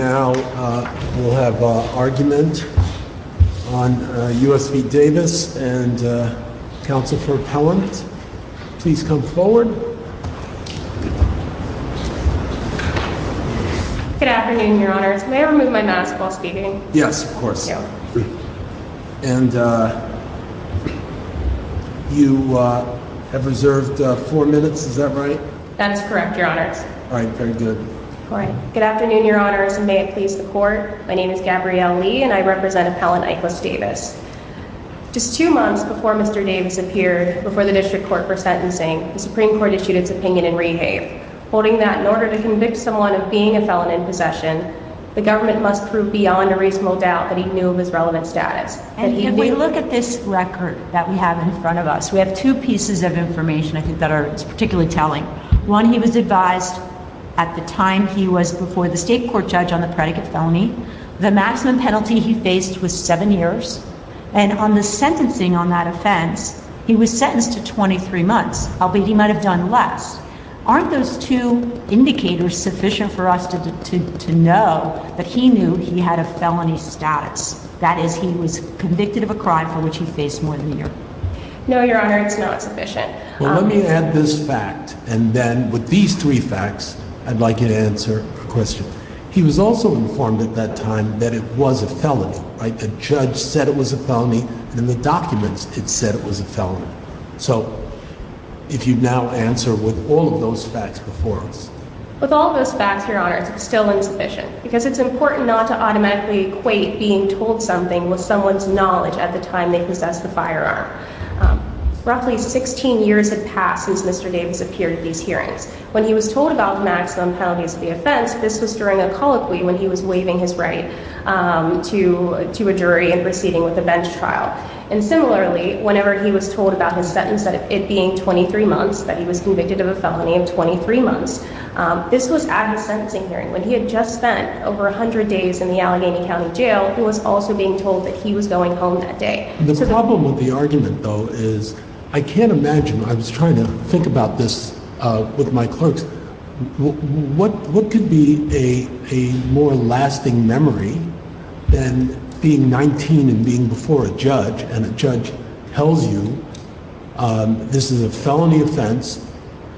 Now we'll have an argument on U.S. v. Davis and counsel for appellant. Please come forward. Good afternoon, your honors. May I remove my mask while speaking? Yes, of course. And you have reserved four minutes. Is that right? That's correct, your honors. All right. Very good. All right. Good afternoon, your honors. And may it please the court, my name is Gabrielle Lee, and I represent Appellant Ikelas Davis. Just two months before Mr. Davis appeared before the district court for sentencing, the Supreme Court issued its opinion in rehave, holding that in order to convict someone of being a felon in possession, the government must prove beyond a reasonable doubt that he knew of his relevant status. And if we look at this record that we have in front of us, we have two pieces of information I think that are particularly telling. One, he was advised at the time he was before the state court judge on the predicate felony, the maximum penalty he faced was seven years. And on the sentencing on that offense, he was sentenced to 23 months, albeit he might have done less. Aren't those two indicators sufficient for us to know that he knew he had a felony status? That is, he was convicted of a crime for which he faced more than a year? No, your honor, it's not sufficient. Well let me add this fact, and then with these three facts, I'd like you to answer a question. He was also informed at that time that it was a felony, right, the judge said it was a felony, and in the documents it said it was a felony. So if you now answer with all of those facts before us. With all of those facts, your honor, it's still insufficient, because it's important not to automatically equate being told something with someone's knowledge at the time they possessed the firearm. Roughly 16 years had passed since Mr. Davis appeared at these hearings. When he was told about the maximum penalties of the offense, this was during a colloquy when he was waiving his right to a jury and proceeding with a bench trial. And similarly, whenever he was told about his sentence, it being 23 months, that he was convicted of a felony of 23 months, this was at his sentencing hearing, when he had just spent over 100 days in the Allegheny County Jail, he was also being told that he was going home that day. The problem with the argument, though, is I can't imagine, I was trying to think about this with my clerks, what could be a more lasting memory than being 19 and being before a judge, and a judge tells you this is a felony offense,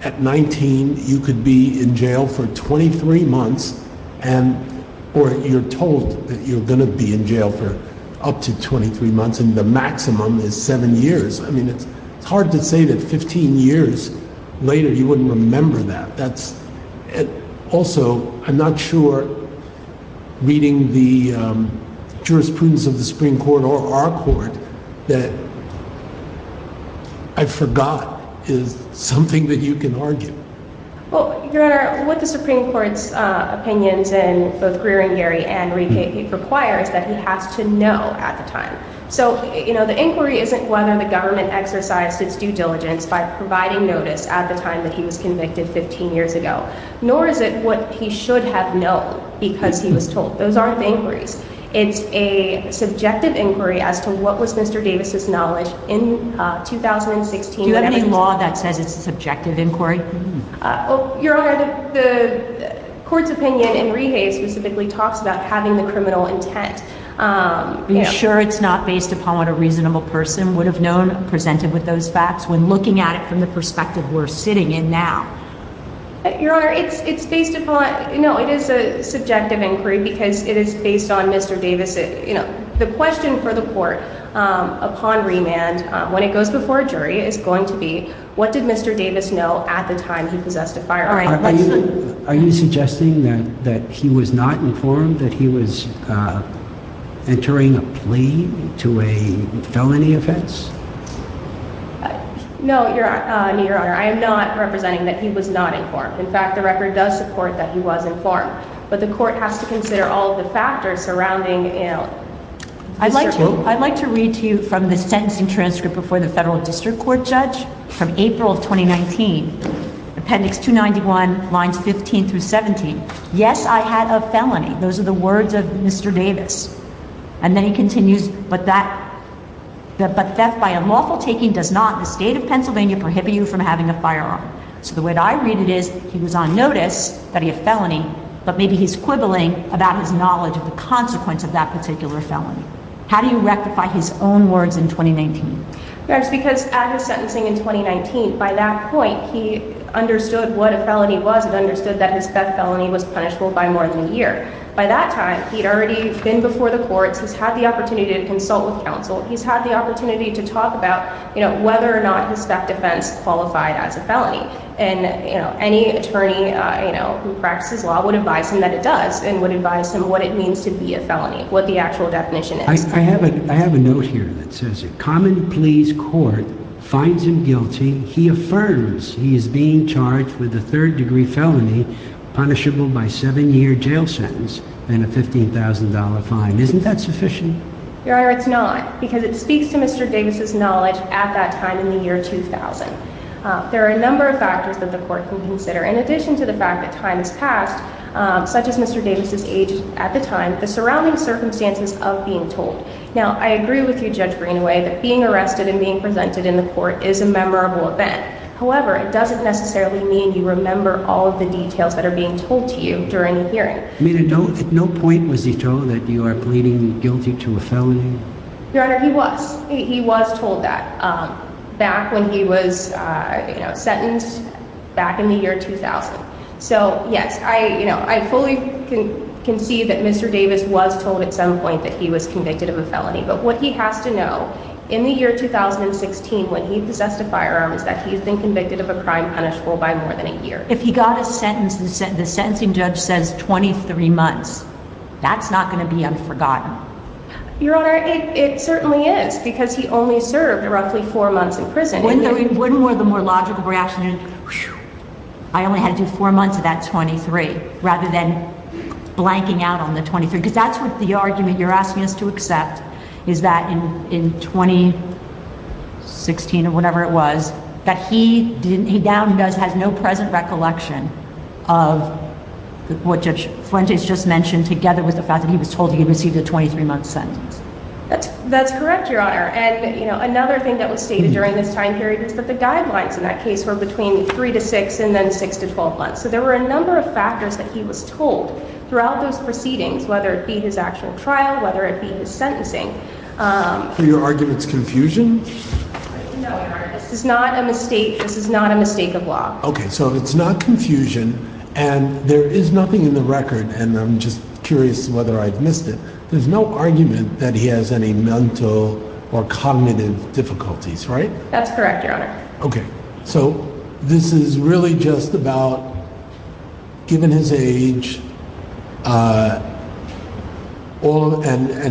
at 19 you could be in jail for 23 months, and the maximum is 7 years, I mean, it's hard to say that 15 years later you wouldn't remember that, that's, also, I'm not sure reading the jurisprudence of the Supreme Court or our court that I forgot is something that you can argue. Well, Your Honor, with the Supreme Court's opinions and both Greer and Geary and Rieke, it requires that he has to know at the time, so, you know, the inquiry isn't whether the government exercised its due diligence by providing notice at the time that he was convicted 15 years ago, nor is it what he should have known because he was told, those aren't inquiries, it's a subjective inquiry as to what was Mr. Davis' knowledge in 2016. Do you have any law that says it's a subjective inquiry? Well, Your Honor, the court's opinion in Rieke specifically talks about having the criminal intent. Are you sure it's not based upon what a reasonable person would have known presented with those facts when looking at it from the perspective we're sitting in now? Your Honor, it's based upon, no, it is a subjective inquiry because it is based on Mr. Davis, you know, the question for the court upon remand, when it goes before a jury, is going to be, what did Mr. Davis know at the time he possessed a firearm? Are you suggesting that he was not informed that he was entering a plea to a felony offense? No, Your Honor, I am not representing that he was not informed. In fact, the record does support that he was informed, but the court has to consider all of the factors surrounding, you know... I'd like to read to you from the sentencing transcript before the federal district court judge from April of 2019, appendix 291, lines 15 through 17. Yes, I had a felony. Those are the words of Mr. Davis. And then he continues, but theft by unlawful taking does not, in the state of Pennsylvania, prohibit you from having a firearm. So the way I read it is he was on notice that he had a felony, but maybe he's quibbling about his knowledge of the consequence of that particular felony. How do you rectify his own words in 2019? Yes, because at his sentencing in 2019, by that point, he understood what a felony was and understood that his theft felony was punishable by more than a year. By that time, he'd already been before the courts. He's had the opportunity to consult with counsel. He's had the opportunity to talk about, you know, whether or not his theft defense qualified as a felony. And, you know, any attorney, you know, who practices law would advise him that it does and would advise him what it means to be a felony, what the actual definition is. I have a note here that says a common pleas court finds him guilty. He affirms he is being charged with a third-degree felony punishable by seven-year jail sentence and a $15,000 fine. Isn't that sufficient? Your Honor, it's not because it speaks to Mr. Davis's knowledge at that time in the year 2000. There are a number of factors that the court can consider, in addition to the fact that time has passed, such as Mr. Davis's age at the time, the surrounding circumstances of being told. Now, I agree with you, Judge Greenaway, that being arrested and being presented in the court is a memorable event. However, it doesn't necessarily mean you remember all of the details that are being told to you during the hearing. I mean, at no point was he told that you are pleading guilty to a felony? Your Honor, he was. He was told that back when he was, you know, sentenced back in the year 2000. So, yes, I fully can see that Mr. Davis was told at some point that he was convicted of a felony. But what he has to know, in the year 2016, when he possessed a firearm, is that he has been convicted of a crime punishable by more than a year. If he got a sentence and the sentencing judge says 23 months, that's not going to be unforgotten. Your Honor, it certainly is, because he only served roughly four months in prison. Wouldn't the more logical reaction be, I only had to do four months of that 23, rather than blanking out on the 23? Because that's what the argument you're asking us to accept, is that in 2016, or whatever it was, that he now has no present recollection of what Judge Fuentes just mentioned, together with the fact that he was told he had received a 23-month sentence. That's correct, Your Honor. Another thing that was stated during this time period is that the guidelines in that case were between three to six, and then six to 12 months. So there were a number of factors that he was told throughout those proceedings, whether it be his actual trial, whether it be his sentencing. For your argument's confusion? No, Your Honor. This is not a mistake. This is not a mistake of law. Okay, so it's not confusion, and there is nothing in the record, and I'm just curious whether I've missed it. There's no argument that he has any mental or cognitive difficulties, right? That's correct, Your Honor. Okay, so this is really just about, given his age, and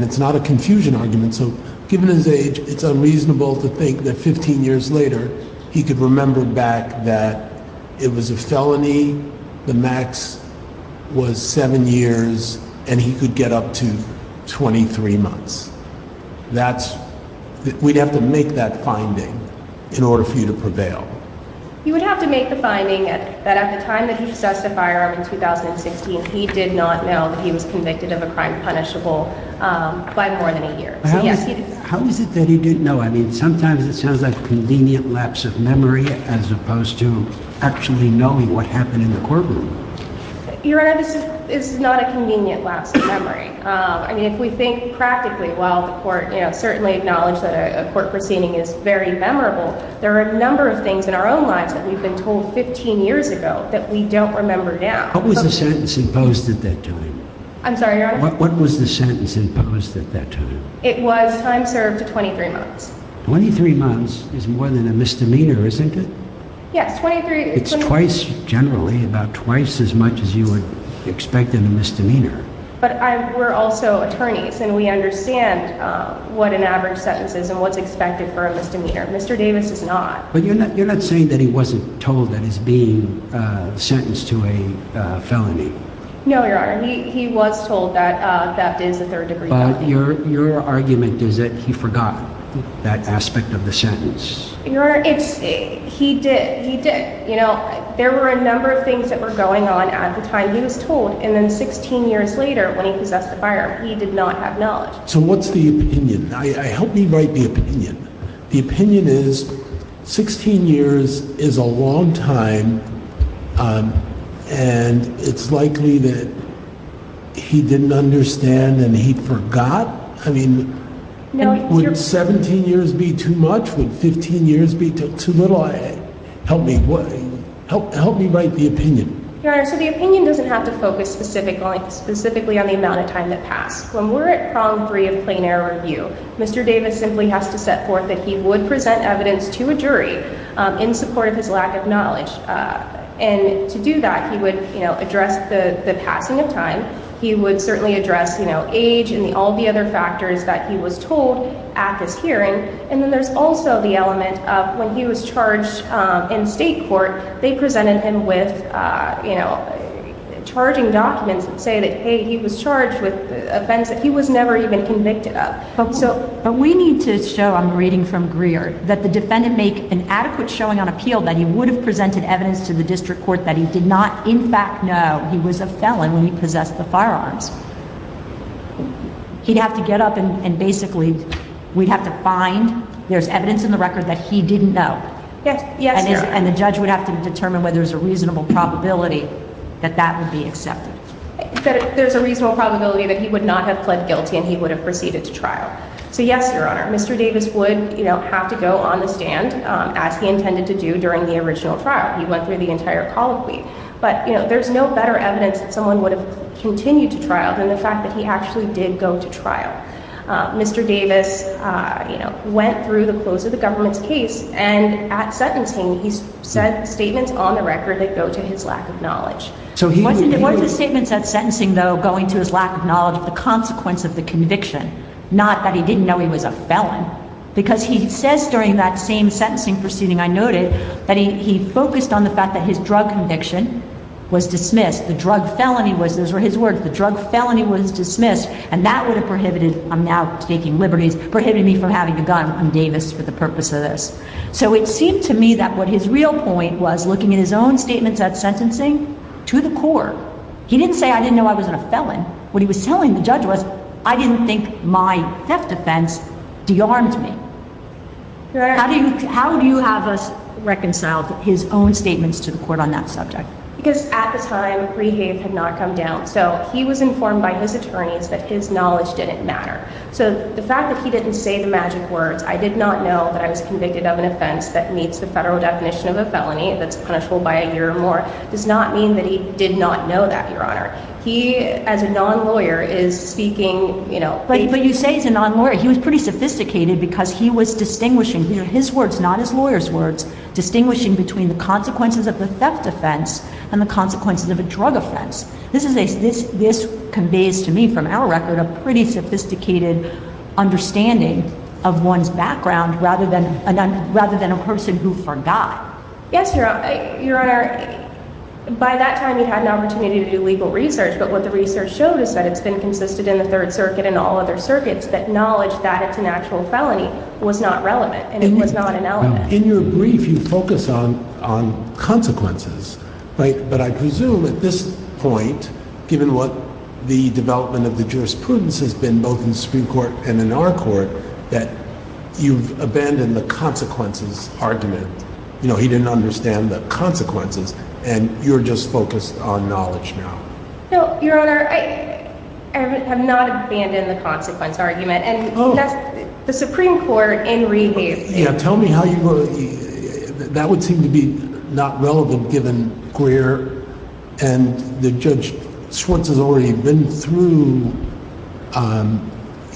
it's not a confusion argument, so given his age, it's unreasonable to think that 15 years later, he could remember back that it was a felony, the max was seven years, and he could get up to 23 months. We'd have to make that finding in order for you to prevail. You would have to make the finding that at the time that he possessed a firearm in 2016, he did not know that he was convicted of a crime punishable by more than a year. How is it that he didn't know? Sometimes it sounds like a convenient lapse of memory, as opposed to actually knowing what happened in the courtroom. Your Honor, this is not a convenient lapse of memory. If we think practically, while the court certainly acknowledged that a court proceeding is very memorable, there are a number of things in our own lives that we've been told 15 years ago that we don't remember now. What was the sentence imposed at that time? I'm sorry, Your Honor? What was the sentence imposed at that time? It was time served to 23 months. Twenty-three months is more than a misdemeanor, isn't it? Yes, 23... It's twice, generally, about twice as much as you would expect in a misdemeanor. But we're also attorneys, and we understand what an average sentence is and what's expected for a misdemeanor. Mr. Davis is not. But you're not saying that he wasn't told that he's being sentenced to a felony? No, Your Honor, he was told that that is a third-degree felony. Your argument is that he forgot that aspect of the sentence? Your Honor, he did, he did. You know, there were a number of things that were going on at the time he was told, and then 16 years later, when he possessed the firearm, he did not have knowledge. So what's the opinion? Help me write the opinion. The opinion is 16 years is a long time, and it's likely that he didn't understand, and he forgot. I mean, would 17 years be too much? Would 15 years be too little? Help me write the opinion. Your Honor, so the opinion doesn't have to focus specifically on the amount of time that passed. When we're at prong three of plain error review, Mr. Davis simply has to set forth that he would present evidence to a jury in support of his lack of knowledge. And to do that, he would, you know, address the passing of time. He would certainly address, you know, age and all the other factors that he was told at this hearing. And then there's also the element of when he was charged in state court, they presented him with, you know, charging documents that say that, hey, he was charged with an offense that he was never even convicted of. But we need to show, I'm reading from Greer, that the defendant make an adequate showing on appeal that he would have presented evidence to the district court that he did not, in fact, know he was a felon when he possessed the firearms. He'd have to get up and basically we'd have to find there's evidence in the record that he didn't know. Yes, yes, Your Honor. And the judge would have to determine whether there's a reasonable probability that that would be accepted. There's a reasonable probability that he would not have pled guilty and he would have proceeded to trial. So yes, Your Honor, Mr. Davis would, you know, have to go on the stand as he intended to do during the original trial. He went through the entire colloquy. But, you know, there's no better evidence that someone would have continued to trial than the fact that he actually did go to trial. Mr. Davis, you know, went through the close of the government's case and at sentencing he sent statements on the record that go to his lack of knowledge. So he wasn't, it wasn't the statements at sentencing, though, going to his lack of knowledge of the consequence of the conviction, not that he didn't know he was a felon, because he says during that same sentencing proceeding, I noted, that he focused on the fact that his drug conviction was dismissed. The drug felony was, those were his words, the drug felony was dismissed, and that would have prohibited, I'm now taking liberties, prohibited me from having a gun. I'm Davis for the purpose of this. So it seemed to me that what his real point was, looking at his own statements at sentencing, to the court, he didn't say, I didn't know I wasn't a felon. What he was telling the judge was, I didn't think my theft offense de-armed me. How do you have us reconcile his own statements to the court on that subject? Because at the time, pre-have had not come down, so he was informed by his attorneys that his knowledge didn't matter. So the fact that he didn't say the magic words, I did not know that I was convicted of an offense that meets the federal definition of a felony, that's punishable by a year or more, does not mean that he did not know that, Your Honor. He, as a non-lawyer, is speaking, you know... But you say he's a non-lawyer. He was pretty sophisticated because he was distinguishing, his words, not his lawyer's words, distinguishing between the consequences of a theft offense and the consequences of a drug offense. This conveys to me, from our record, a pretty sophisticated understanding of one's background rather than a person who forgot. Yes, Your Honor. By that time, he'd had an opportunity to do legal research, but what the research showed is that it's been consisted in the Third Circuit and all other circuits that knowledge that it's an actual felony was not relevant and it was not an element. In your brief, you focus on consequences, right? But I presume at this point, given what the development of the jurisprudence has been, both in the Supreme Court and in our court, that you've abandoned the consequences argument. You know, he didn't understand the consequences and you're just focused on knowledge now. No, Your Honor, I have not abandoned the consequence argument and that's the Supreme Court in rehab. Yeah, tell me how you were... That would seem to be not relevant given Greer and Judge Schwartz has already been through,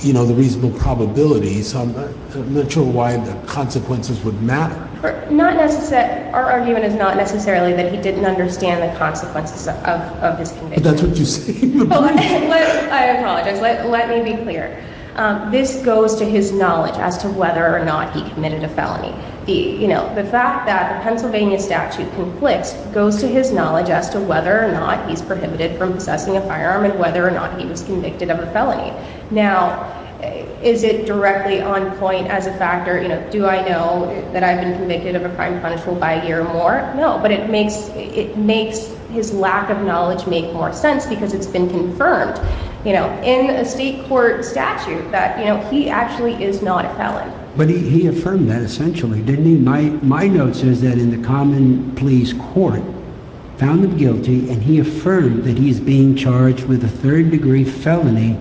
you know, the reasonable probabilities. I'm not sure why the consequences would matter. Not necessarily. Our argument is not necessarily that he didn't understand the consequences of this conviction. But that's what you're saying. I apologize. Let me be clear. This goes to his knowledge as to whether or not he committed a felony. You know, the fact that the Pennsylvania statute conflicts goes to his knowledge as to whether or not he's prohibited from possessing a firearm and whether or not he was convicted of a felony. Now, is it directly on point as a factor? You know, do I know that I've been convicted of a crime punishable by a year or more? No, but it makes his lack of knowledge make more sense because it's been confirmed, you know, in a state court statute that, you know, he actually is not a felon. But he affirmed that essentially, didn't he? My note says that in the common police court, found him guilty and he affirmed that he's being charged with a third degree felony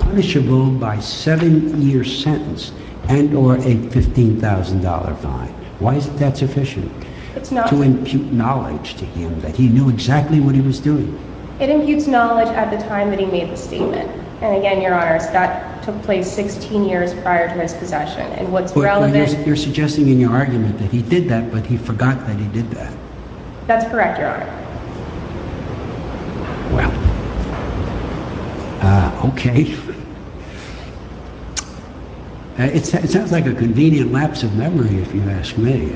punishable by seven year sentence and or a $15,000 fine. Why is that sufficient? It's not to impute knowledge to him that he knew exactly what he was doing. It imputes knowledge at the time that he made the statement. And again, your honor, Scott took place 16 years prior to his possession and what's relevant. You're suggesting in your argument that he did that, but he forgot that he did that. That's correct, your honor. Well, okay. It sounds like a convenient lapse of memory, if you ask me.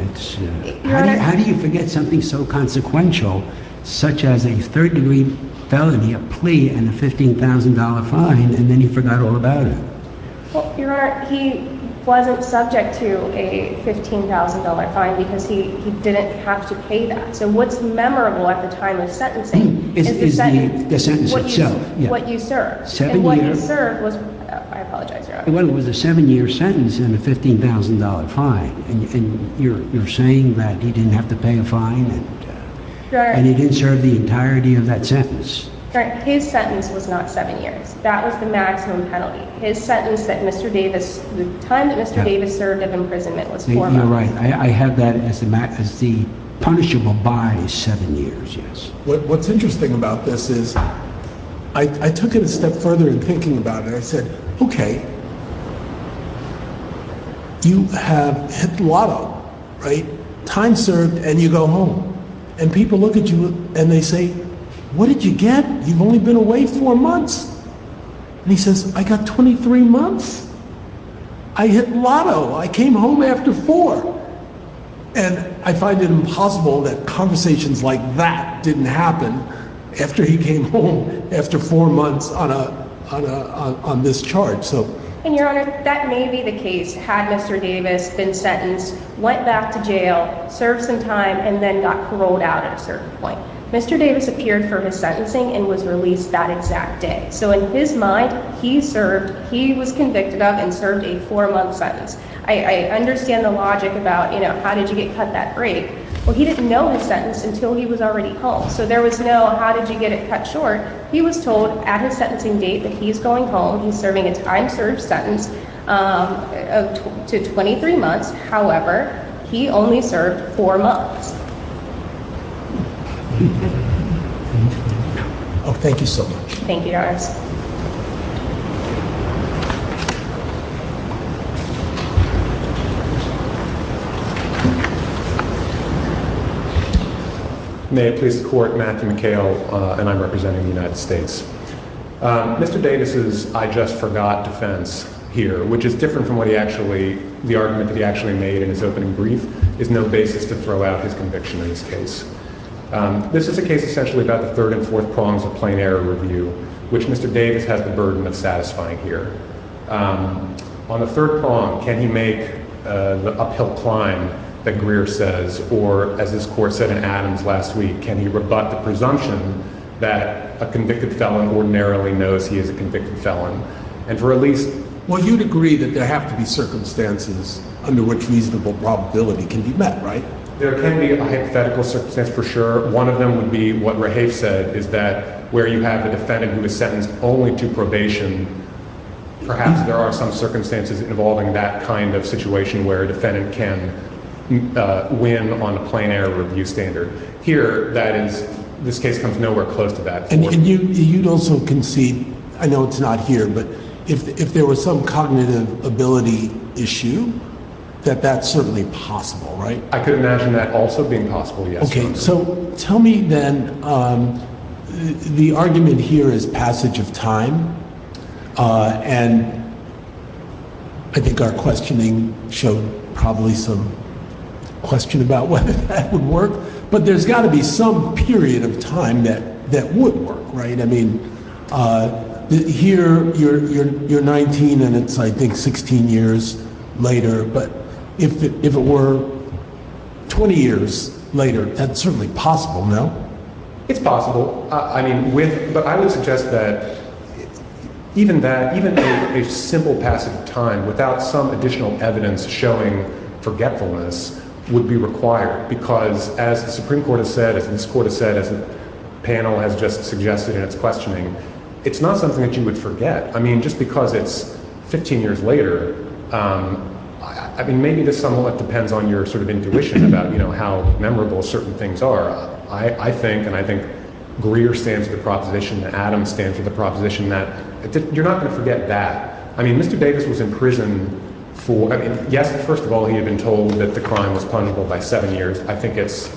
How do you forget something so consequential, such as a third degree felony, a plea and a $15,000 fine, and then you forgot all a $15,000 fine because he didn't have to pay that. So what's memorable at the time of sentencing is the sentence itself, what you served. And what you served was, I apologize, your honor. Well, it was a seven year sentence and a $15,000 fine. And you're saying that he didn't have to pay a fine and he didn't serve the entirety of that sentence. His sentence was not seven years. That was the maximum penalty. His sentence that Mr. Davis, the time that Mr. Davis served of imprisonment was four months. You're right. I have that as the punishable by the seven years, yes. What's interesting about this is I took it a step further in thinking about it. I said, okay, you have hit the lotto, right? Time served and you go home. And people look at you and they say, what did you get? You've only been away four months. And he says, I got 23 months. I hit lotto. I came home after four. And I find it impossible that conversations like that didn't happen after he came home after four months on this charge. And your honor, that may be the case. Had Mr. Davis been sentenced, went back to jail, served some time and then got paroled out at a certain point. Mr. Davis appeared for his sentencing and was released that exact day. So in his mind, he served, he was convicted of and served a four month sentence. I understand the logic about, you know, how did you get cut that break? Well, he didn't know his sentence until he was already home. So there was no, how did you get it cut short? He was told at his sentencing date that he's going home. He's serving a time served sentence of two to 23 months. However, he only served four months. Oh, thank you so much. Thank you. May it please the court, Matthew McHale. And I'm representing the United States. Mr. Davis's, I just forgot defense here, which is different from what he actually, the argument that he actually made in his opening brief is no basis to throw out his conviction in this case. This is a case essentially about the third and fourth prongs of plain error review, which Mr. Davis has the burden of satisfying here. On the third prong, can he make the uphill climb that Greer says, or as this court said in Adams last week, can he rebut the presumption that a convicted felon ordinarily knows he is a convicted felon? And for at least, well, you'd agree that there have to be circumstances under which reasonable probability can be met, right? There can be a hypothetical circumstance for sure. One of them would be what Rahaf said is that where you have a defendant who was sentenced only to probation, perhaps there are some circumstances involving that kind of situation where a defendant can win on a plain error review standard. Here, this case comes nowhere close to that. And you'd also concede, I know it's not here, but if there was some cognitive ability issue, that that's certainly possible, right? I could imagine that also being possible, yes. Okay. So tell me then the argument here is passage of time. And I think our questioning showed probably some question about whether that would work, but there's got to be some period of time that would work, right? I mean, here you're 19 and it's, I think, 16 years later, but if it were 20 years later, that's certainly possible, no? It's possible. I mean, but I would suggest that even that, even a simple passage of time without some additional evidence showing forgetfulness would be required because as the Supreme Court has said, as this court has said, as the panel has just suggested in its questioning, it's not something that you would forget. I mean, just because it's 15 years later, I mean, maybe this somewhat depends on your sort of intuition about how memorable certain things are. I think, and I think Greer stands with the proposition and Adams stands with the proposition that you're not going to forget that. I mean, Mr. Davis was in prison for, I mean, yes, first of all, he had been told that the crime was punishable by seven years. I think it's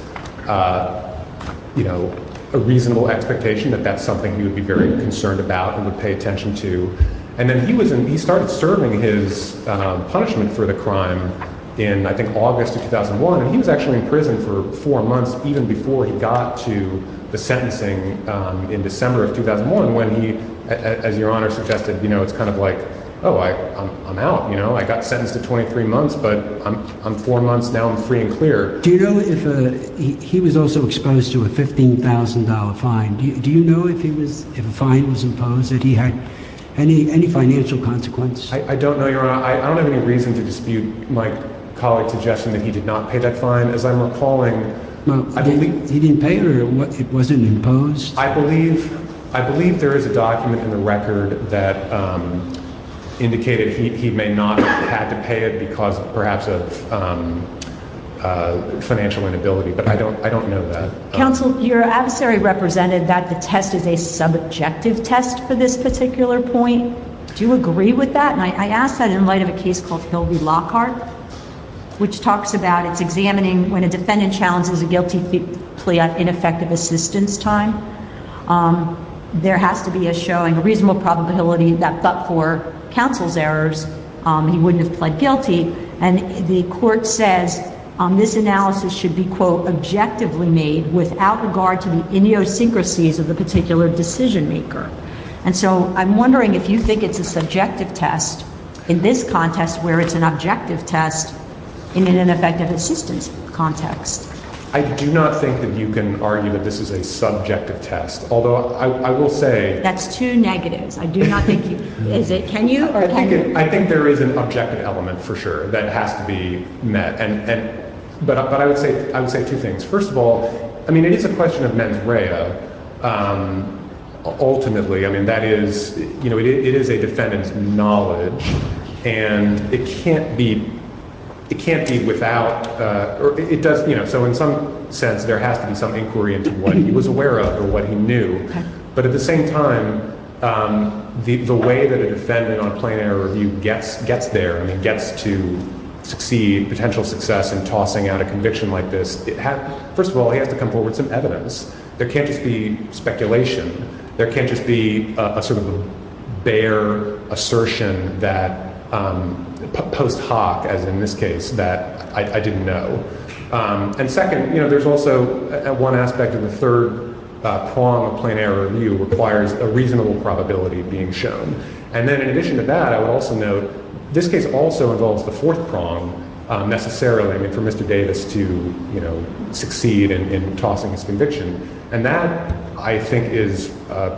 a reasonable expectation that that's something he would be very concerned about and would pay attention to. And then he started serving his punishment for the crime in, I think, August of 2001. And he was actually in prison for four months, even before he got to the sentencing in December of 2001, when he, as Your Honor suggested, you know, it's kind of like, oh, I'm out, you know, I got sentenced to 23 months, but I'm four months, now I'm free and clear. Do you know if he was also exposed to a $15,000 fine? Do you know if he was, if a fine was imposed, that he had any financial consequence? I don't know, Your Honor. I don't have any reason to dispute my colleague's suggestion that he did not pay that fine, as I'm recalling. Well, he didn't pay it or it wasn't imposed? I believe, I believe there is a document in the record that indicated he may not have had to pay it because perhaps of financial inability, but I don't know that. Counsel, your adversary represented that the test is a subjective test for this particular point. Do you agree with that? And I asked that in light of a case called Lockhart, which talks about it's examining when a defendant challenges a guilty plea at ineffective assistance time, there has to be a showing, a reasonable probability that but for counsel's errors, he wouldn't have pled guilty. And the court says this analysis should be, quote, objectively made without regard to the idiosyncrasies of the particular decision maker. And so I'm wondering if you think it's a subjective test in this contest where it's an objective test in an ineffective assistance context. I do not think that you can argue that this is a subjective test, although I will say. That's two negatives. I do not think you, is it, can you or can you? I think there is an objective element for sure that has to be met and, but I would say, I would say two things. First of all, I mean, it is a question of mens rea ultimately. I mean, that is, you know, it is a defendant's knowledge and it can't be, it can't be without, or it does, you know, so in some sense there has to be some inquiry into what he was aware of or what he knew. But at the same time, the way that a defendant on a plain error review gets, gets there and he gets to succeed, potential success in tossing out a conviction like this, first of all, he has to come forward with some evidence. There can't just be speculation. There can't just be a sort of bare assertion that post hoc, as in this case, that I didn't know. And second, you know, there's also one aspect of the third prong of plain error review requires a reasonable probability being shown. And then in addition to that, I would also note this case also involves the fourth prong necessarily, I mean, for Mr. Davis to, you know, succeed in tossing his conviction. And that I think is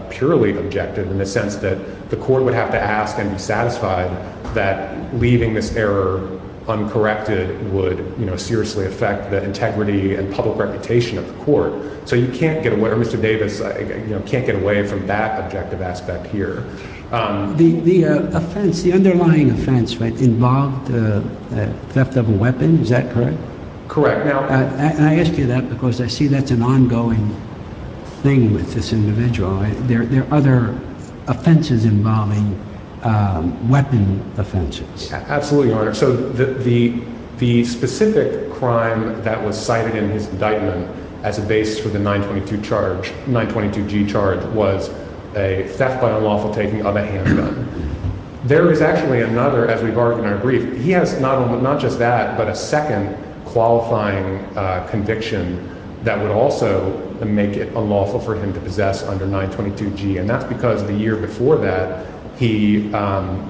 purely objective in the sense that the court would have to ask and be satisfied that leaving this error uncorrected would, you know, seriously affect the integrity and public reputation of the court. So you can't get away, or Mr. Davis, you know, can't get away from that objective aspect here. The offense, the underlying offense, right, involved the theft of a weapon. Is that correct? Correct. Now, I ask you that because I see that's an ongoing thing with this individual. There are other offenses involving weapon offenses. Absolutely, Your Honor. So the specific crime that was cited in his indictment as a base for the 922 charge, 922g charge, was a theft by unlawful taking of a handgun. There is actually another, as we've argued in our brief, he has not only, not just that, but a second qualifying conviction that would also make it unlawful for him to possess under 922g. And that's because the year before that, he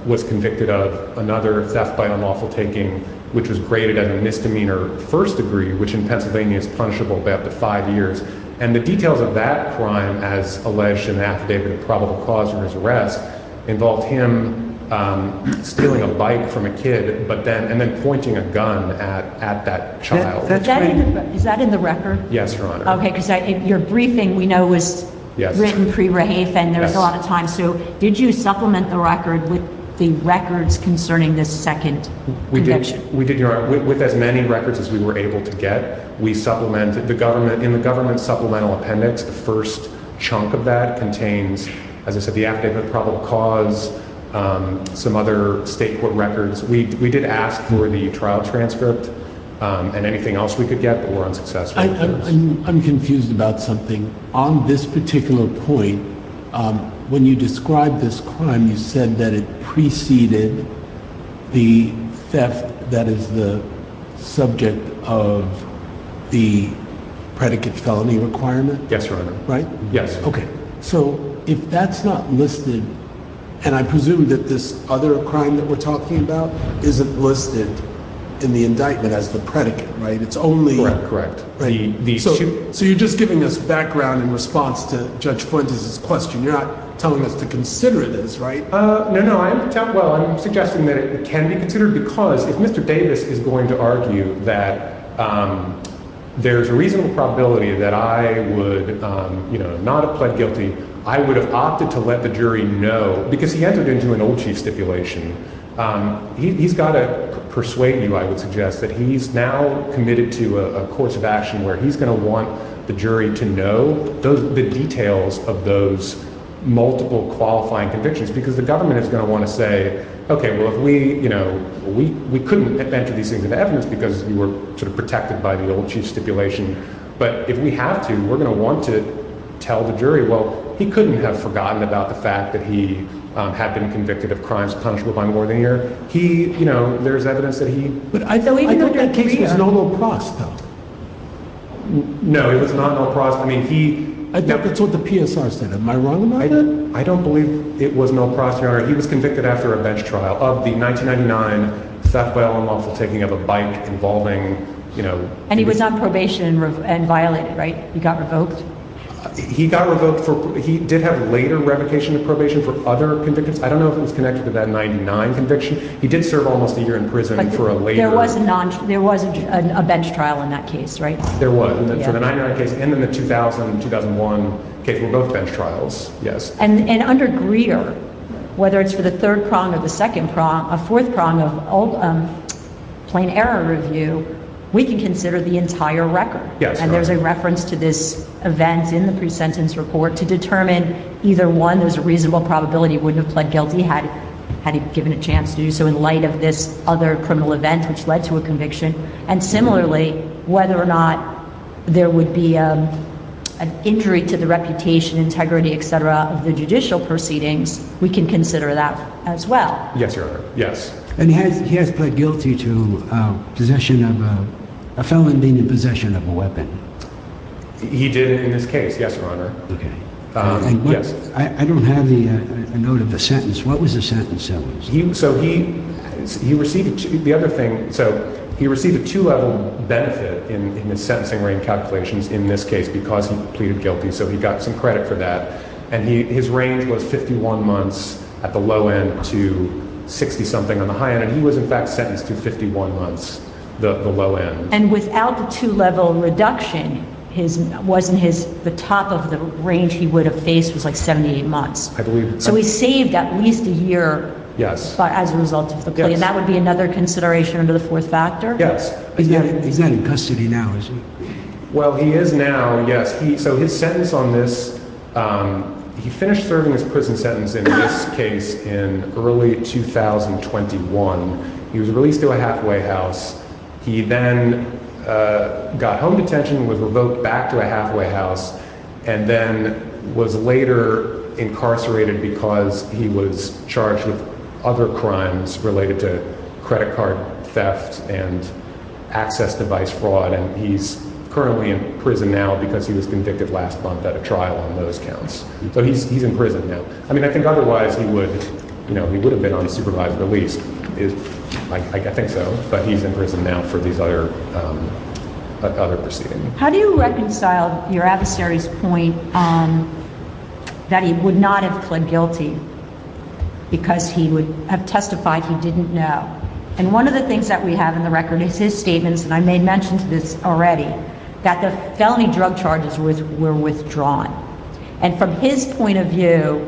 was convicted of another theft by unlawful taking, which was graded as a misdemeanor first degree, which in Pennsylvania is punishable by up to five years. And the details of that crime, as alleged in the affidavit of probable cause for his arrest, involved him stealing a bike from a kid, and then pointing a gun at that child. Is that in the record? Yes, Your Honor. Okay, because your briefing, we know, was written pre-rape, and there was a lot of time. So did you supplement the record with the records concerning this second conviction? We did, Your Honor, with as many records as we were able to get. We supplemented the government, in the government supplemental appendix, the first chunk of that contains, as I said, the affidavit of probable cause, some other state court records. We did ask for the trial transcript and anything else we could get, but were unsuccessful. I'm confused about something. On this particular point, when you described this crime, you said that it preceded the theft that is the subject of the predicate felony requirement? Yes, Your Honor. Right? Yes. Okay, so if that's not listed, and I presume that this other crime that we're talking about isn't listed in the indictment as the predicate, right? It's only- Correct, correct. So you're just giving us background in response to Judge Fuentes' question. You're not telling us to consider this, right? No, no. Well, I'm suggesting that it can be considered because if Mr. Davis is going to argue that there's a reasonable probability that I would not have pled guilty, I would have opted to let the jury know because he entered into an old chief stipulation. He's got to persuade you, I would suggest, that he's now committed to a course of action where he's going to want the jury to know the details of those multiple qualifying convictions because the government is going to want to say, okay, well, if we, you know, we couldn't enter these things into evidence because you were sort of protected by the old chief stipulation, but if we have to, we're going to want to tell the jury, well, he couldn't have forgotten about the fact that he had been convicted of crimes punishable by more than a year. He, you know, there's evidence that he- But I don't think that case is normal process. No, it was not a normal process. I mean, he- I think that's what the PSR said. Am I wrong about that? I don't believe it was a normal process, Your Honor. He was convicted after a bench trial of the 1999 theft by all unlawful taking of a bike involving, you know- And he was on probation and violated, right? He got revoked? He got revoked for, he did have later revocation of probation for other convictions. I don't know if it was connected to that 99 conviction. He did serve almost a year in prison for a later- There was a bench trial in that case, right? There was for the 99 case and then the 2000 and 2001 case were both bench trials, yes. And under Greer, whether it's for the third prong or the second prong, a fourth prong of plain error review, we can consider the entire record. Yes, Your Honor. And there's a reference to this event in the pre-sentence report to determine either one, there's a reasonable probability he wouldn't have pled guilty had he given a chance to do so in light of this other criminal event which led to a conviction. And similarly, whether or not there would be an injury to the reputation, integrity, etc., of the judicial proceedings, we can consider that as well. Yes, Your Honor. Yes. And he has pled guilty to possession of a, a felon being in possession of a weapon. He did in this case, yes, Your Honor. Okay. Yes. I don't have the note of the sentence. What was the sentence? So he, he received, the other thing, so he received a two-level benefit in his sentencing range calculations in this case because he pleaded guilty, so he got some credit for that. And he, his range was 51 months at the low end to 60-something on the high end, and he was in fact sentenced to 51 months, the, the low end. And without the two-level reduction, his, wasn't his, the top of the range he would I believe that's right. So he saved at least a year. Yes. As a result of the plea. Yes. And that would be another consideration under the fourth factor? Yes. Is he, is he in custody now, is he? Well, he is now, yes. He, so his sentence on this, he finished serving his prison sentence in this case in early 2021. He was released to a halfway house. He then got home detention, was revoked back to a halfway house, and then was later incarcerated because he was charged with other crimes related to credit card theft and access device fraud. And he's currently in prison now because he was convicted last month at a trial on those counts. So he's, he's in prison now. I mean, I think otherwise he would, you know, he would have been on supervised release, is, like, I think so. But he's in prison now for these other, other proceedings. How do you reconcile your adversary's point that he would not have pled guilty because he would have testified he didn't know? And one of the things that we have in the record is his statements, and I made mention to this already, that the felony drug charges was, were withdrawn. And from his point of view,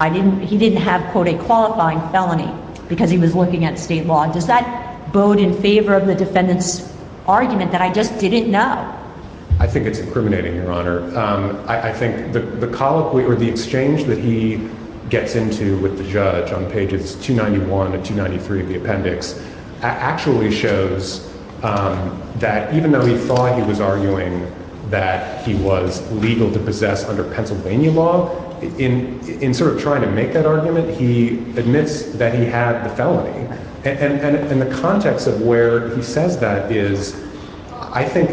I didn't, he didn't have, quote, a qualifying felony because he was looking at state law. Does that bode in favor of the defendant's I think it's incriminating, Your Honor. I think the colloquy or the exchange that he gets into with the judge on pages 291 and 293 of the appendix actually shows that even though he thought he was arguing that he was legal to possess under Pennsylvania law, in, in sort of trying to make that argument, he admits that he had the felony. And the context of where he says that is, I think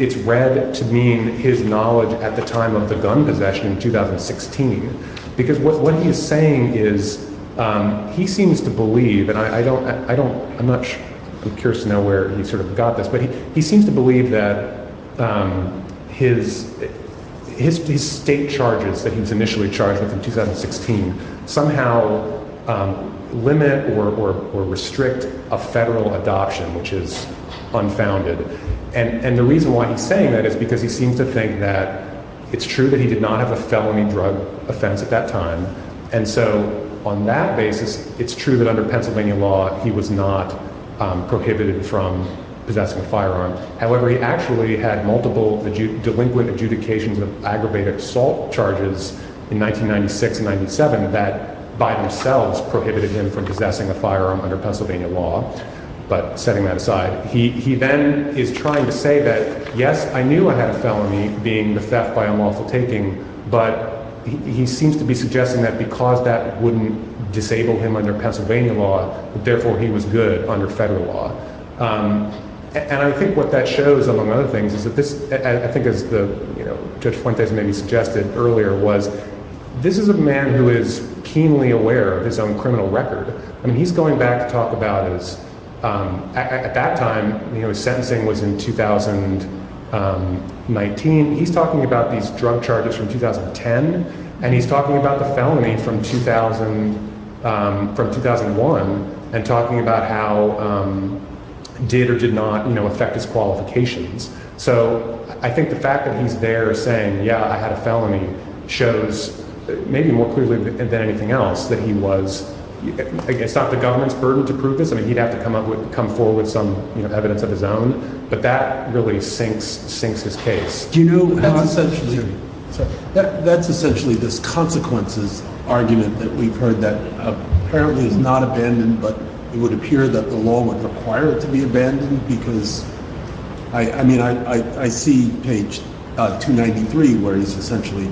it's read to mean his knowledge at the time of the gun possession in 2016, because what he is saying is he seems to believe, and I don't, I don't, I'm not sure, I'm curious to know where he sort of got this, but he seems to believe that his, his state charges that he unfounded. And, and the reason why he's saying that is because he seems to think that it's true that he did not have a felony drug offense at that time. And so on that basis, it's true that under Pennsylvania law, he was not prohibited from possessing a firearm. However, he actually had multiple delinquent adjudications of aggravated assault charges in 1996 and 97 that by themselves prohibited him from possessing a firearm under Pennsylvania law. But setting that he, he then is trying to say that, yes, I knew I had a felony being the theft by unlawful taking, but he seems to be suggesting that because that wouldn't disable him under Pennsylvania law, therefore he was good under federal law. And I think what that shows, among other things, is that this, I think as the, you know, Judge Fuentes maybe suggested earlier was, this is a man who is keenly aware of his own criminal record. I mean, he's going back to his, at that time, you know, his sentencing was in 2019. He's talking about these drug charges from 2010 and he's talking about the felony from 2000, from 2001 and talking about how did or did not, you know, affect his qualifications. So I think the fact that he's there saying, yeah, I had a felony shows maybe more clearly than anything else that he was, it's not the government's burden to prove this. I mean, he'd have to come up with, come forward with some evidence of his own, but that really sinks, sinks his case. That's essentially this consequences argument that we've heard that apparently is not abandoned, but it would appear that the law would require it to be abandoned because I mean, I see page 293, where he's essentially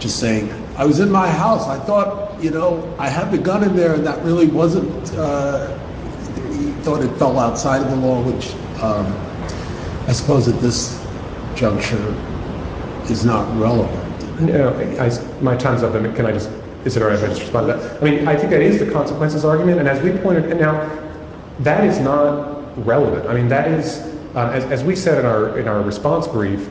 just saying, I was in my house. I thought, you know, I had the gun in there and that really wasn't, he thought it fell outside of the law, which I suppose at this juncture is not relevant. My time's up. Can I just, is it all right if I just respond to that? I mean, I think that is the consequences argument. And as we pointed out, that is not relevant. I mean, that is, as we said in our, in our response brief,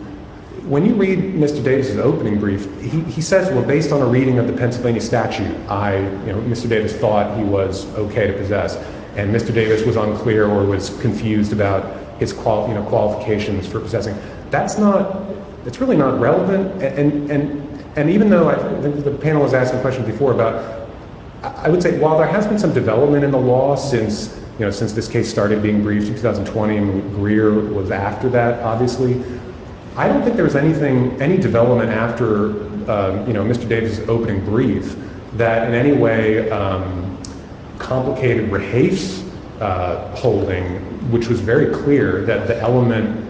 when you read Mr. Davis's opening brief, he says, well, based on a reading of the Pennsylvania statute, I, you know, Mr. Davis thought he was okay to possess. And Mr. Davis was unclear or was confused about his qualifications for possessing. That's not, it's really not relevant. And, and, and even though the panel was asking questions before about, I would say, while there has been some development in the law since, you know, since this case started being briefed in 2020 and Greer was after that, obviously, I don't think there was anything, any development after, you know, Mr. Davis's opening brief that in any way complicated Rahaf's holding, which was very clear that the element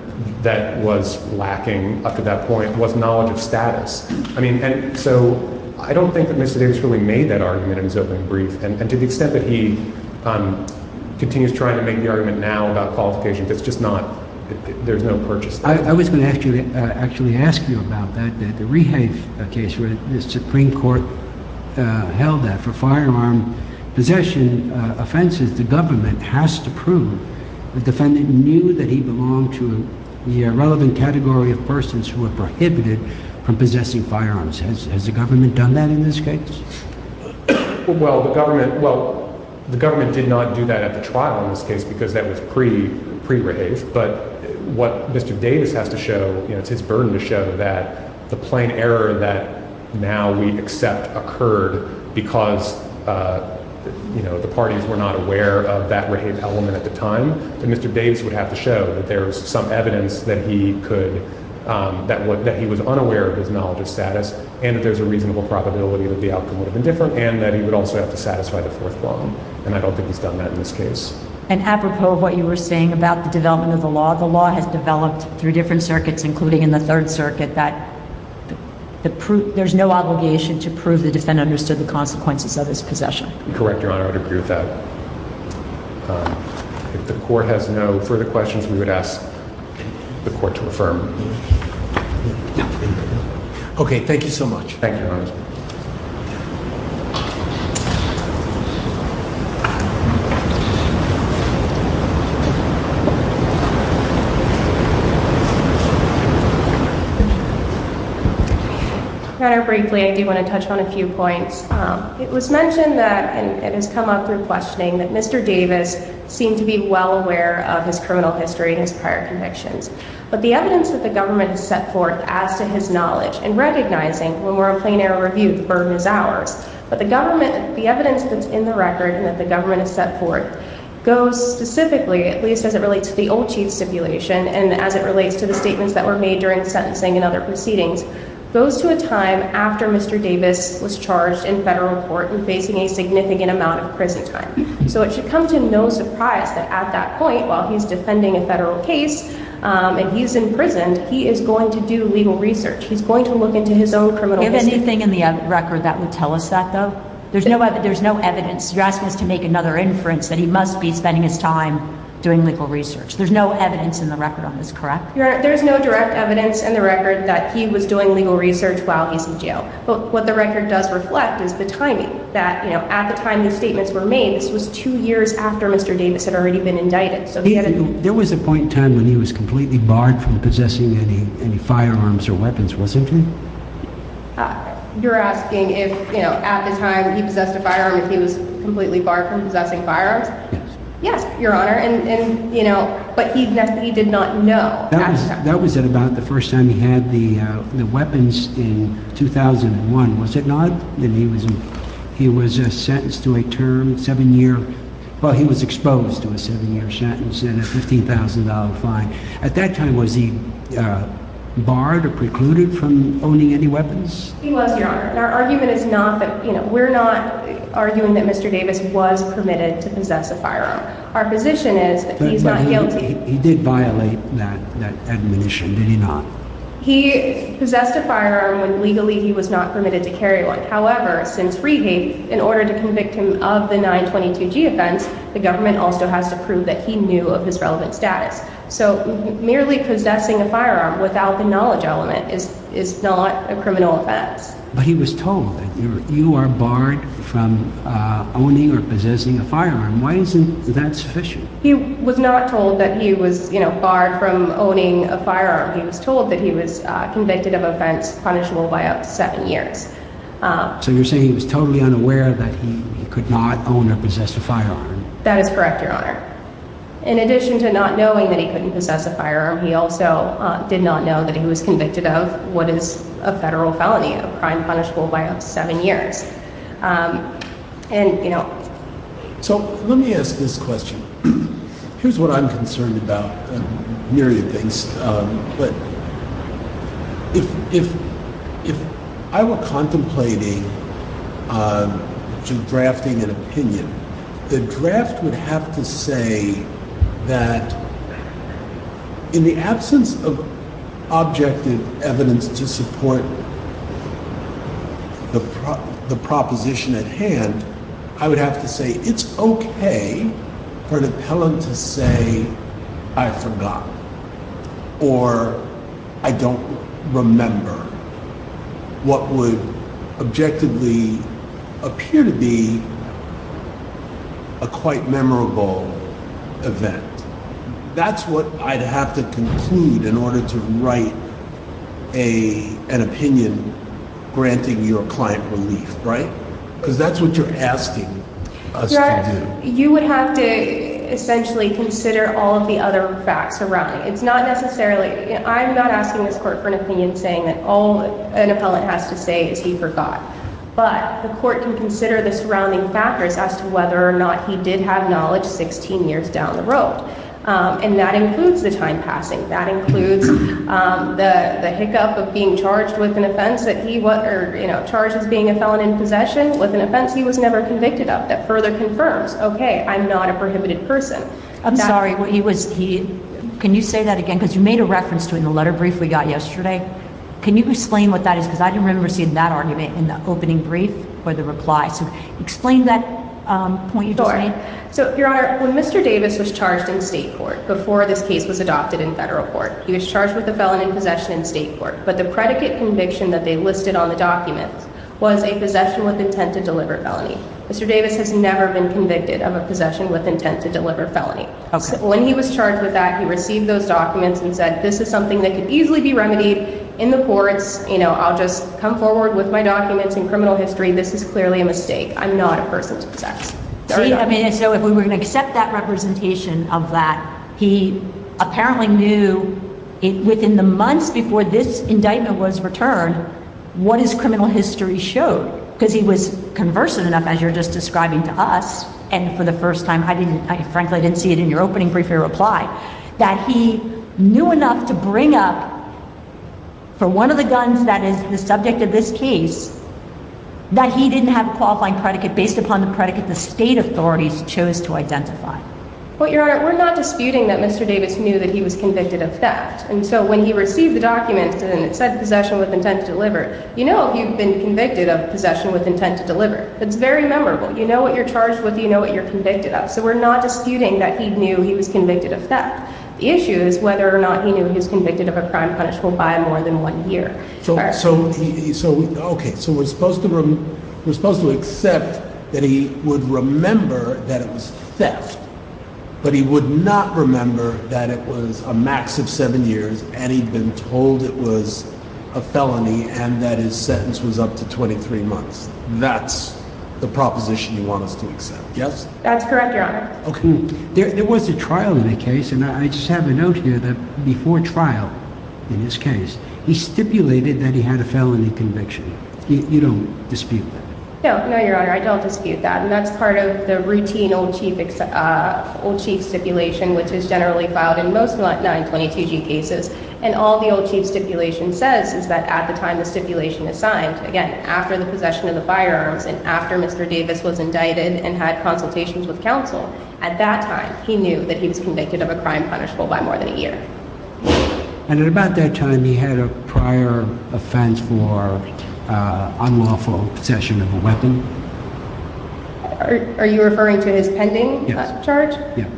that was lacking up to that point was knowledge of status. I mean, and so I don't think that Mr. Davis really made that argument in his opening brief. And to the extent that he continues trying to make the argument now about qualifications, it's just not, there's no purchase. I was going to ask you, actually ask you about that, that the Rahaf case where the Supreme Court held that for firearm possession offenses, the government has to prove the defendant knew that he belonged to the relevant category of persons who were prohibited from possessing firearms. Has the government done that in this case? Well, the government, well, the government did not do that at the trial in this case because that was pre-Rahaf, but what Mr. Davis has to show, you know, it's his burden to show that the plain error that now we accept occurred because, you know, the parties were not aware of that Rahaf element at the time, but Mr. Davis would have to show that there was some evidence that he could, that what, that he was unaware of his knowledge of status and that there's a reasonable probability that the outcome would have been different and that he would also have to satisfy the fourth case. And apropos of what you were saying about the development of the law, the law has developed through different circuits, including in the third circuit, that there's no obligation to prove the defendant understood the consequences of his possession. Correct, Your Honor, I would agree with that. If the court has no further questions, we would ask the court to affirm. Okay. Thank you so much. Thank you, Your Honor. Your Honor, briefly, I do want to touch on a few points. It was mentioned that, and it has come up through questioning, that Mr. Davis seemed to be well aware of his criminal history and his evidence that the government has set forth as to his knowledge and recognizing when we're on plain error review, the burden is ours. But the government, the evidence that's in the record and that the government has set forth goes specifically, at least as it relates to the old chief stipulation and as it relates to the statements that were made during sentencing and other proceedings, goes to a time after Mr. Davis was charged in federal court and facing a significant amount of prison time. So it should come to no surprise that at that point, while he's defending a federal case and he's in prison, he is going to do legal research. He's going to look into his own criminal history. Is there anything in the record that would tell us that, though? There's no evidence. You're asking us to make another inference that he must be spending his time doing legal research. There's no evidence in the record on this, correct? Your Honor, there is no direct evidence in the record that he was doing legal research while he's in jail. But what the record does reflect is the timing, that at the time the statements were made, was two years after Mr. Davis had already been indicted. There was a point in time when he was completely barred from possessing any firearms or weapons, wasn't he? You're asking if, you know, at the time he possessed a firearm, if he was completely barred from possessing firearms? Yes, Your Honor. And, you know, but he did not know. That was at about the first time he had the Well, he was exposed to a seven-year sentence and a $15,000 fine. At that time, was he barred or precluded from owning any weapons? He was, Your Honor. And our argument is not that, you know, we're not arguing that Mr. Davis was permitted to possess a firearm. Our position is that he's not guilty. But he did violate that admonition, did he not? He possessed a firearm when legally he was not permitted to carry one. However, since free hate, in order to convict him of the 922g offense, the government also has to prove that he knew of his relevant status. So merely possessing a firearm without the knowledge element is not a criminal offense. But he was told that you are barred from owning or possessing a firearm. Why isn't that sufficient? He was not told that he was, you know, barred from owning a firearm. He was told that he was convicted of offense punishable by up to seven years. So you're saying he was totally unaware that he could not own or possess a firearm? That is correct, Your Honor. In addition to not knowing that he couldn't possess a firearm, he also did not know that he was convicted of what is a federal felony, a crime punishable by up to seven years. And, you know... So let me ask this question. Here's what I'm concerned about, myriad things. But if I were contemplating drafting an opinion, the draft would have to say that in the absence of objective evidence to support the proposition at hand, I would have to say it's okay for an appellant to say, I forgot, or I don't remember what would objectively appear to be a quite memorable event. That's what I'd have to conclude in order to write an opinion granting your client relief, right? Because that's what you're asking us to do. You would have to essentially consider all of the other facts around it. It's not necessarily... I'm not asking this court for an opinion saying that all an appellant has to say is he forgot. But the court can consider the surrounding factors as to whether or not he did have knowledge 16 years down the road. And that includes the time passing. That includes the hiccup of being charged with an offense that he was charged as being a felon in possession with an offense he was never convicted of that further confirms, okay, I'm not a prohibited person. I'm sorry, can you say that again? Because you made a reference to it in the letter brief we got yesterday. Can you explain what that is? Because I didn't remember seeing that argument in the brief or the reply. So explain that point you just made. Sure. So your honor, when Mr. Davis was charged in state court before this case was adopted in federal court, he was charged with a felon in possession in state court. But the predicate conviction that they listed on the documents was a possession with intent to deliver felony. Mr. Davis has never been convicted of a possession with intent to deliver felony. When he was charged with that, he received those documents and said, this is something that could easily be remedied in the courts. I'll just come forward with my documents and criminal history. This is clearly a mistake. I'm not a person with sex. So if we're going to accept that representation of that, he apparently knew within the months before this indictment was returned, what his criminal history showed, because he was conversant enough as you're just describing to us. And for the first time, I didn't, frankly, I didn't see it in your opening brief or reply that he knew enough to bring up for one of the guns that is the subject of this case that he didn't have a qualifying predicate based upon the predicate the state authorities chose to identify. Well, Your Honor, we're not disputing that Mr. Davis knew that he was convicted of theft. And so when he received the documents and it said possession with intent to deliver, you know, you've been convicted of possession with intent to deliver. It's very memorable. You know what you're charged with. You know what you're convicted of. So we're not disputing that he knew he was convicted of theft. The issue is whether or not he knew he So, okay, so we're supposed to, we're supposed to accept that he would remember that it was theft, but he would not remember that it was a max of seven years and he'd been told it was a felony and that his sentence was up to 23 months. That's the proposition you want us to accept. Yes, that's correct, Your Honor. Okay. There was a trial in a case and I just have a here that before trial in this case, he stipulated that he had a felony conviction. You don't dispute that. No, no, Your Honor. I don't dispute that. And that's part of the routine old chief, uh, old chief stipulation, which is generally filed in most 922g cases. And all the old chief stipulation says is that at the time the stipulation is signed again, after the possession of the firearms and after Mr. Davis was indicted and had consultations with counsel at that time, he knew that he was convicted of a crime punishable by more than a year. And at about that time he had a prior offense for unlawful possession of a weapon. Are you referring to his pending charge? Yeah.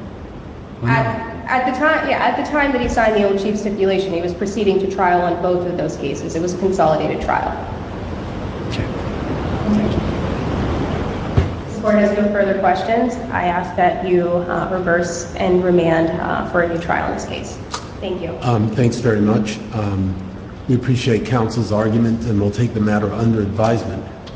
At the time, yeah, at the time that he signed the old chief stipulation, he was proceeding to trial on both of those cases. It was a consolidated remand for a new trial in this case. Thank you. Um, thanks very much. Um, we appreciate counsel's argument and we'll take the matter under advisement.